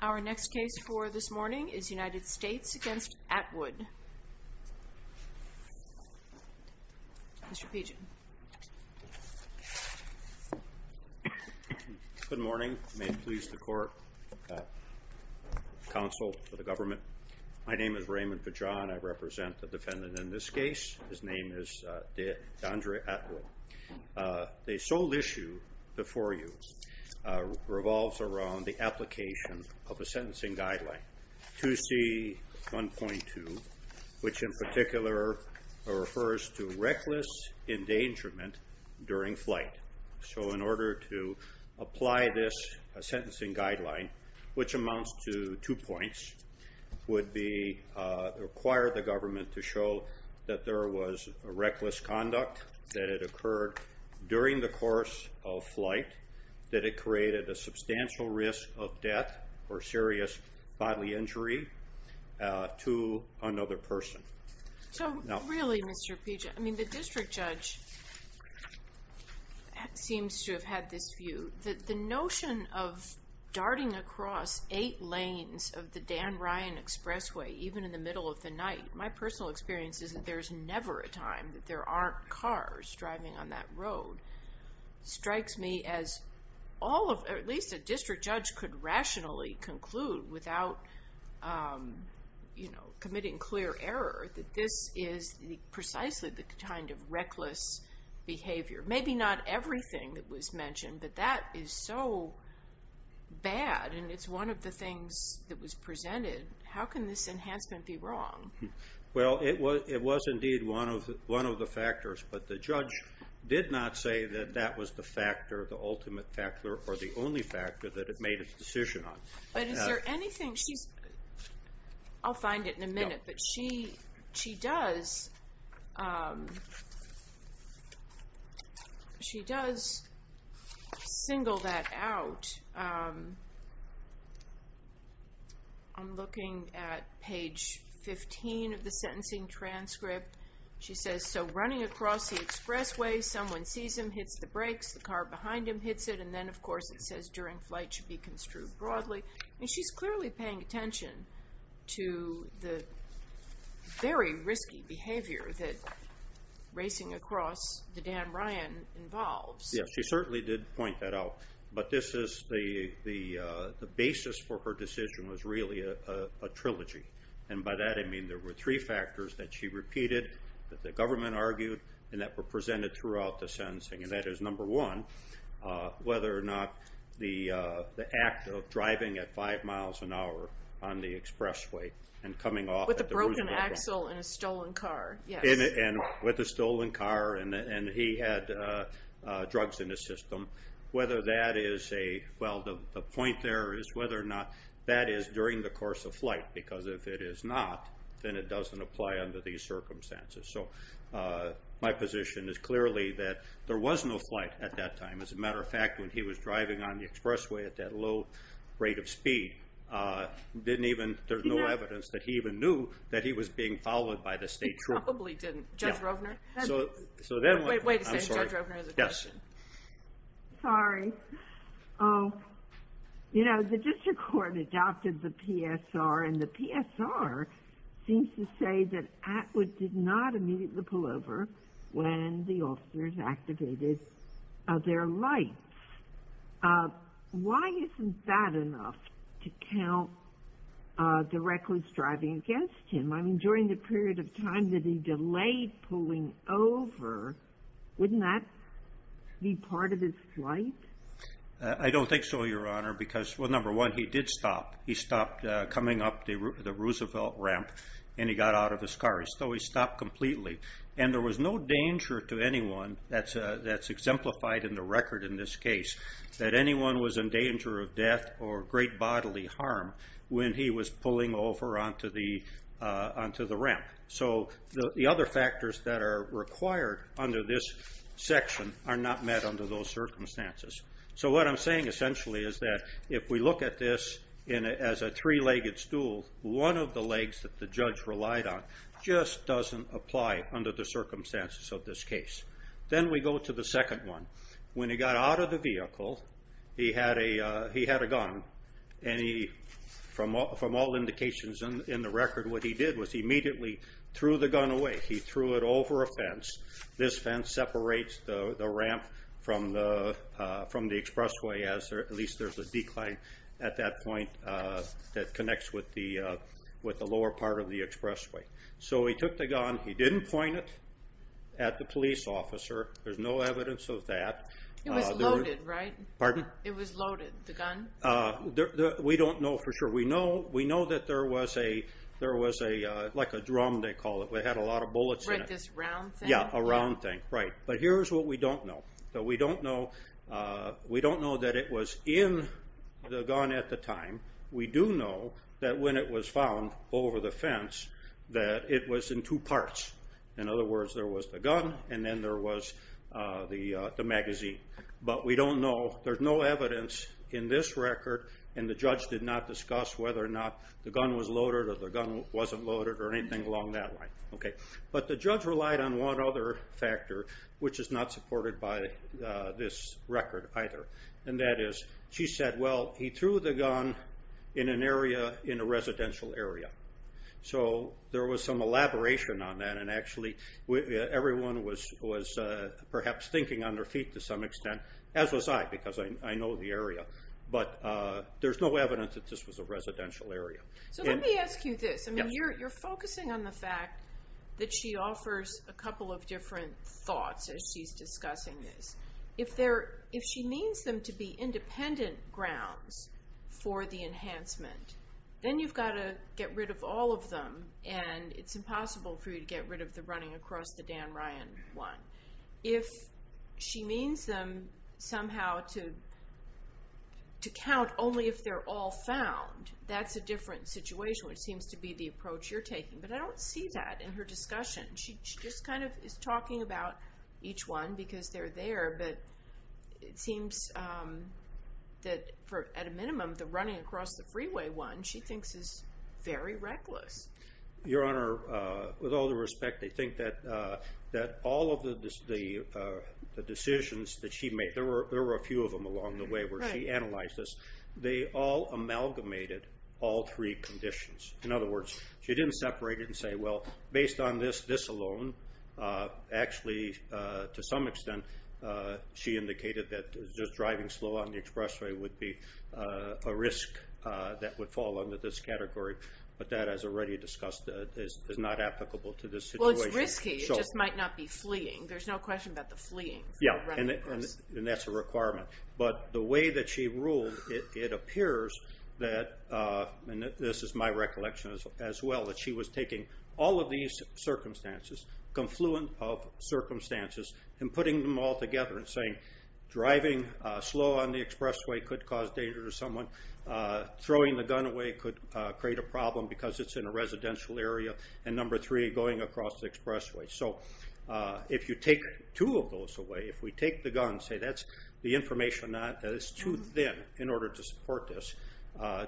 Our next case for this morning is United States v. Atwood, Mr. Peejan. Good morning. May it please the court, counsel to the government. My name is Raymond Peejan. I represent the defendant in this case. His name is Deandre Atwood. The sole issue before you revolves around the application of a sentencing guideline, 2C.1.2, which in particular refers to reckless endangerment during flight. So in order to apply this sentencing guideline, which amounts to two points, would require the government to show that there was reckless conduct, that it occurred during the course of flight, that it created a substantial risk of death or serious bodily injury to another person. So really, Mr. Peejan, the district judge seems to have had this view, that the notion of darting across eight lanes of the Dan Ryan Expressway, even in the middle of the night, my personal experience is that there's never a time that there aren't cars driving on that could rationally conclude without committing clear error that this is precisely the kind of reckless behavior. Maybe not everything that was mentioned, but that is so bad and it's one of the things that was presented. How can this enhancement be wrong? Well, it was indeed one of the factors, but the judge did not say that that was the factor, the ultimate factor or the only factor that it made its decision on. But is there anything, I'll find it in a minute, but she does single that out. I'm looking at page 15 of the sentencing transcript. She says, so running across the expressway, someone sees him, hits the brakes, the car behind him hits it. And then of course, it says during flight should be construed broadly. And she's clearly paying attention to the very risky behavior that racing across the Dan Ryan involves. Yes, she certainly did point that out. But this is the basis for her decision was really a trilogy. And by that, I mean, there were three factors that she repeated, that the government argued, and that were presented throughout the sentencing. And that is number one, whether or not the act of driving at five miles an hour on the expressway and coming off- With a broken axle and a stolen car, yes. And with a stolen car and he had drugs in his system, whether that is a, well, the point there is whether or not that is during the course of flight. Because if it is not, then it doesn't apply under these circumstances. So my position is clearly that there was no flight at that time. As a matter of fact, when he was driving on the expressway at that low rate of speed, didn't even, there's no evidence that he even knew that he was being followed by the state trooper. He probably didn't. Judge Rovner? So then- Wait, wait a second, Judge Rovner has a question. Sorry. You know, the district court adopted the PSR and the PSR seems to say that Atwood did not immediately pull over when the officers activated their lights. Why isn't that enough to count directly as driving against him? I mean, during the period of time that he delayed pulling over, wouldn't that be part of his flight? I don't think so, Your Honor, because, well, number one, he did stop. He stopped coming up the Roosevelt ramp and he got out of his car. So he stopped completely. And there was no danger to anyone that's exemplified in the record in this case that anyone was in danger of death or great bodily harm when he was pulling over onto the ramp. So the other factors that are required under this section are not met under those circumstances. So what I'm saying essentially is that if we look at this as a three-legged stool, one of the legs that the judge relied on just doesn't apply under the circumstances of this case. Then we go to the second one. When he got out of the vehicle, he had a gun, and from all indications in the record, what he did was he immediately threw the gun away. He threw it over a fence. This fence separates the ramp from the expressway, as at least there's a decline at that point that connects with the lower part of the expressway. So he took the gun. He didn't point it at the police officer. There's no evidence of that. It was loaded, right? Pardon? It was loaded, the gun? We don't know for sure. We know that there was like a drum, they call it. It had a lot of bullets in it. Right, this round thing? Yeah, a round thing, right. But here's what we don't know. So we don't know that it was in the gun at the time. We do know that when it was found over the fence, that it was in two parts. In other words, there was the gun, and then there was the magazine. But we don't know. There's no evidence in this record. And the judge did not discuss whether or not the gun was loaded, or the gun wasn't loaded, or anything along that line. But the judge relied on one other factor, which is not supported by this record either. And that is, she said, well, he threw the gun in an area, in a residential area. So there was some elaboration on that. And actually, everyone was perhaps thinking on their feet to some extent, as was I, because I know the area. But there's no evidence that this was a residential area. So let me ask you this. I mean, you're focusing on the fact that she offers a couple of different thoughts as she's discussing this. If she means them to be independent grounds for the enhancement, then you've got to get rid of all of them. And it's impossible for you to get rid of the running across the Dan Ryan one. If she means them somehow to count only if they're all found, that's a different situation, which seems to be the approach you're taking. But I don't see that in her discussion. She just kind of is talking about each one because they're there. But it seems that, at a minimum, the running across the freeway one, she thinks is very reckless. Your Honor, with all due respect, I think that all of the decisions that she made, there were a few of them along the way where she analyzed this, they all amalgamated all three conditions. In other words, she didn't separate it and say, well, based on this, this alone, actually, to some extent, she indicated that just driving slow on the expressway would be a risk that would fall under this category. But that, as already discussed, is not applicable to this situation. Well, it's risky. It just might not be fleeing. There's no question about the fleeing. Yeah, and that's a requirement. But the way that she ruled, it appears that, and this is my recollection as well, that she was taking all of these circumstances, confluent of circumstances, and putting them all together and saying, driving slow on the expressway could cause danger to someone. Throwing the gun away could create a problem because it's in a residential area. And number three, going across the expressway. So if you take two of those away, if we take the gun, say, that's the information that is too thin in order to support this.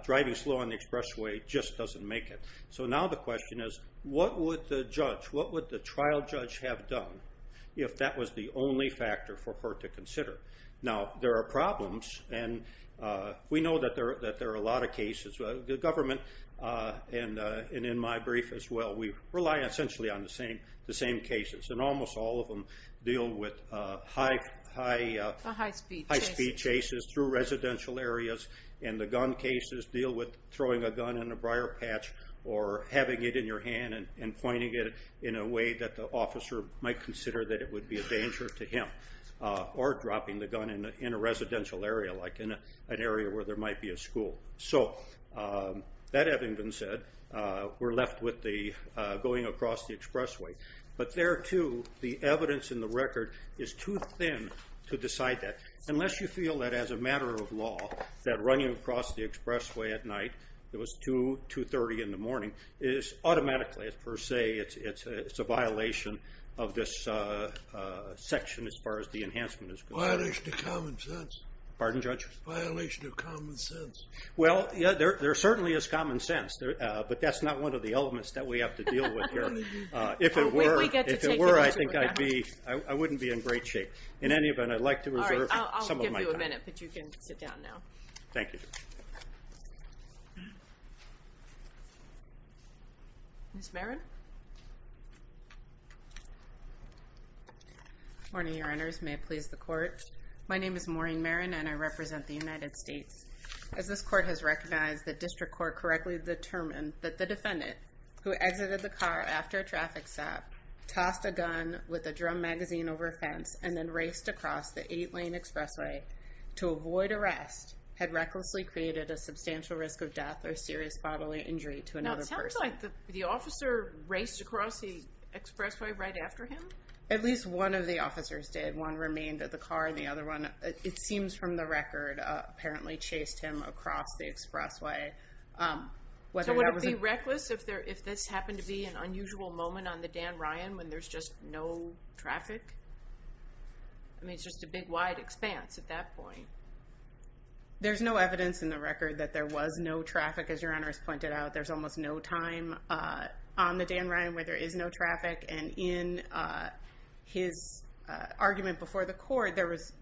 Driving slow on the expressway just doesn't make it. So now the question is, what would the judge, what would the trial judge have done if that was the only factor for her to consider? Now, there are problems. And we know that there are a lot of cases. The government, and in my brief as well, we rely essentially on the same cases. And almost all of them deal with high-speed chases through residential areas. And the gun cases deal with throwing a gun in a briar patch or having it in your hand and pointing it in a way that the officer might consider that it would be a danger to him. Or dropping the gun in a residential area, like in an area where there might be a school. So that having been said, we're left with the going across the expressway. But there too, the evidence in the record is too thin to decide that. Unless you feel that as a matter of law, that running across the expressway at night, it was 2, 2.30 in the morning, is automatically, per se, it's a violation of this section as far as the enhancement is concerned. Violation of common sense. Pardon, Judge? Violation of common sense. Well, yeah, there certainly is common sense. But that's not one of the elements that we have to deal with here. If it were, I think I'd be, I wouldn't be in great shape. In any event, I'd like to reserve some of my time. All right, I'll give you a minute, but you can sit down now. Thank you, Judge. Ms. Marin? Good morning, Your Honors. May it please the court. My name is Maureen Marin, and I represent the United States. As this court has recognized, the district court correctly determined that the defendant, who exited the car after a traffic stop, tossed a gun with a drum magazine over a fence, and then raced across the eight-lane expressway to avoid arrest, had recklessly created a substantial risk of death or serious bodily injury to another person. Now, it sounds like the officer raced across the expressway right after him? At least one of the officers did. One remained at the car, and the other one, it seems from the record, apparently chased him across the expressway. So would it be reckless if this happened to be an unusual moment on the Dan Ryan, when there's just no traffic? I mean, it's just a big wide expanse at that point. There's no evidence in the record that there was no traffic, as Your Honors pointed out. There's almost no time on the Dan Ryan where there is no traffic, and in his argument before the court, there was,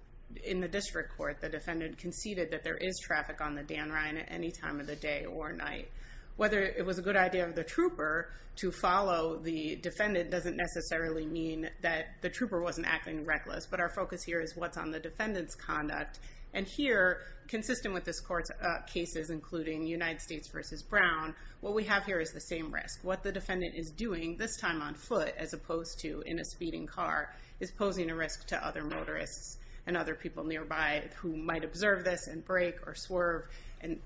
in the district court, the defendant conceded that there is traffic on the Dan Ryan at any time of the day or night. Whether it was a good idea of the trooper to follow the defendant doesn't necessarily mean that the trooper wasn't acting reckless, but our focus here is what's on the defendant's conduct. And here, consistent with this court's cases, including United States v. Brown, what we have here is the same risk. What the defendant is doing, this time on foot, as opposed to in a speeding car, is posing a risk to other motorists and other people nearby who might observe this and brake or swerve,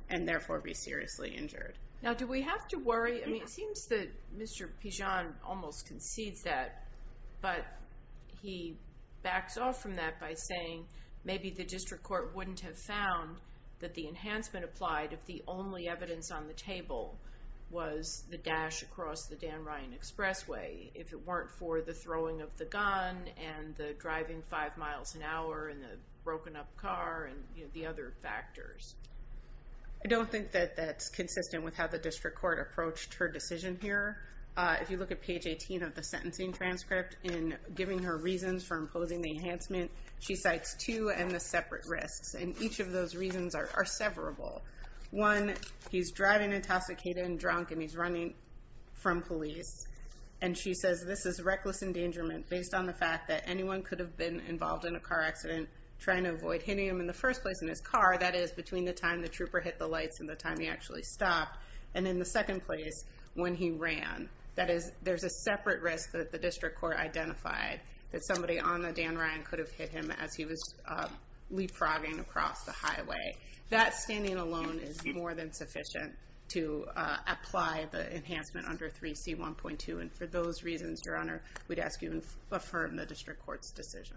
and therefore be seriously injured. Now, do we have to worry? It seems that Mr. Pijan almost concedes that, but he backs off from that by saying maybe the district court wouldn't have found that the enhancement applied if the only evidence on the table was the dash across the Dan Ryan Expressway, if it weren't for the throwing of the gun and the driving five miles an hour and the broken up car and the other factors. I don't think that that's consistent with how the district court approached her decision here. If you look at page 18 of the sentencing transcript, in giving her reasons for imposing the enhancement, she cites two and the separate risks. And each of those reasons are severable. One, he's driving intoxicated and drunk and he's running from police. And she says this is reckless endangerment based on the fact that anyone could have been involved in a car accident trying to avoid hitting him in the first place in his car, that is between the time the trooper hit the lights and the time he actually stopped, and in the second place when he ran. That is, there's a separate risk that the district court identified that somebody on the Dan Ryan could have hit him as he was leapfrogging across the highway. That standing alone is more than sufficient to apply the enhancement under 3C1.2. And for those reasons, Your Honor, we'd ask you to affirm the district court's decision.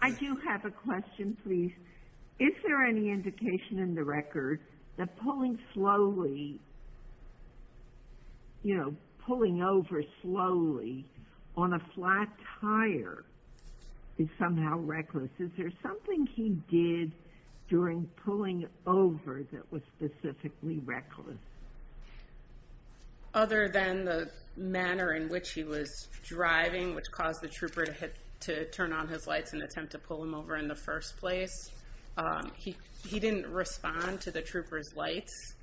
I do have a question, please. Is there any indication in the record that pulling slowly, you know, pulling over slowly on a flat tire is somehow reckless? Is there something he did during pulling over that was specifically reckless? Other than the manner in which he was driving, which caused the trooper to turn on his lights and attempt to pull him over in the first place, he didn't respond to the trooper's lights.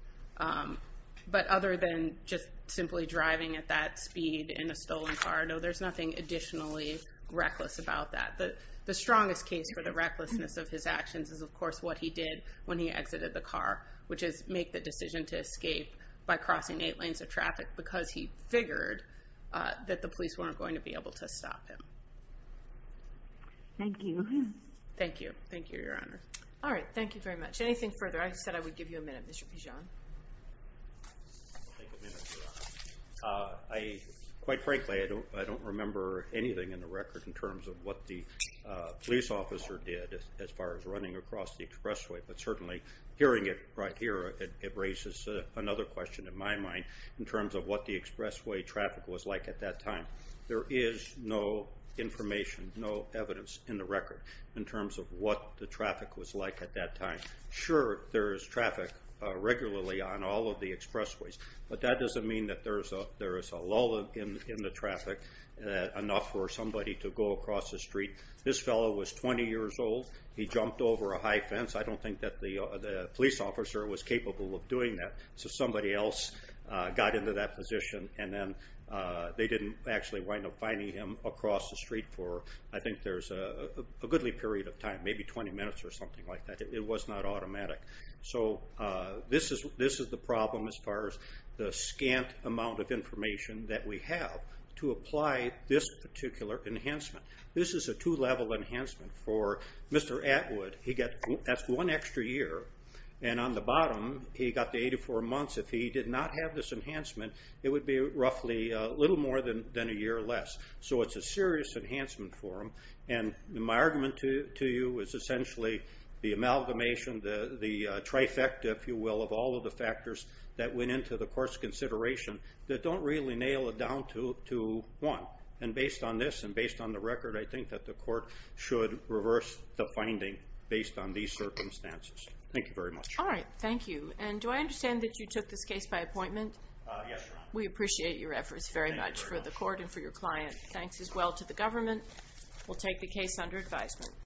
But other than just simply driving at that speed in a stolen car, no, there's nothing additionally reckless about that. The strongest case for the recklessness of his actions is, of course, what he did when he exited the car, which is make the decision to escape by crossing eight lanes of traffic because he figured that the police weren't going to be able to stop him. Thank you. Thank you, Your Honor. All right, thank you very much. Anything further? I said I would give you a minute, Mr. Pigeon. I'll take a minute, Your Honor. Quite frankly, I don't remember anything in the record in terms of what the police officer did as far as running across the expressway, but certainly hearing it right here, it raises another question in my mind in terms of what the expressway traffic was like at that time. There is no information, no evidence in the record in terms of what the traffic was like at that time. Sure, there is traffic regularly on all of the expressways, but that doesn't mean that there is a lull in the traffic enough for somebody to go across the street. This fellow was 20 years old. He jumped over a high fence. I don't think that the police officer was capable of doing that. So somebody else got into that position and then they didn't actually wind up finding him across the street for I think there's a goodly period of time, maybe 20 minutes or something like that. It was not automatic. So this is the problem as far as the scant amount of information that we have to apply this particular enhancement. This is a two-level enhancement for Mr. Atwood. That's one extra year, and on the bottom, he got the 84 months. If he did not have this enhancement, it would be roughly a little more than a year less. So it's a serious enhancement for him. And my argument to you is essentially the amalgamation, the trifecta, if you will, of all of the factors that went into the court's consideration that don't really nail it down to one. And based on this and based on the record, I think that the court should reverse the finding based on these circumstances. Thank you very much. All right, thank you. And do I understand that you took this case by appointment? Yes, Your Honor. We appreciate your efforts very much for the court and for your client. Thanks as well to the government. We'll take the case under advisement.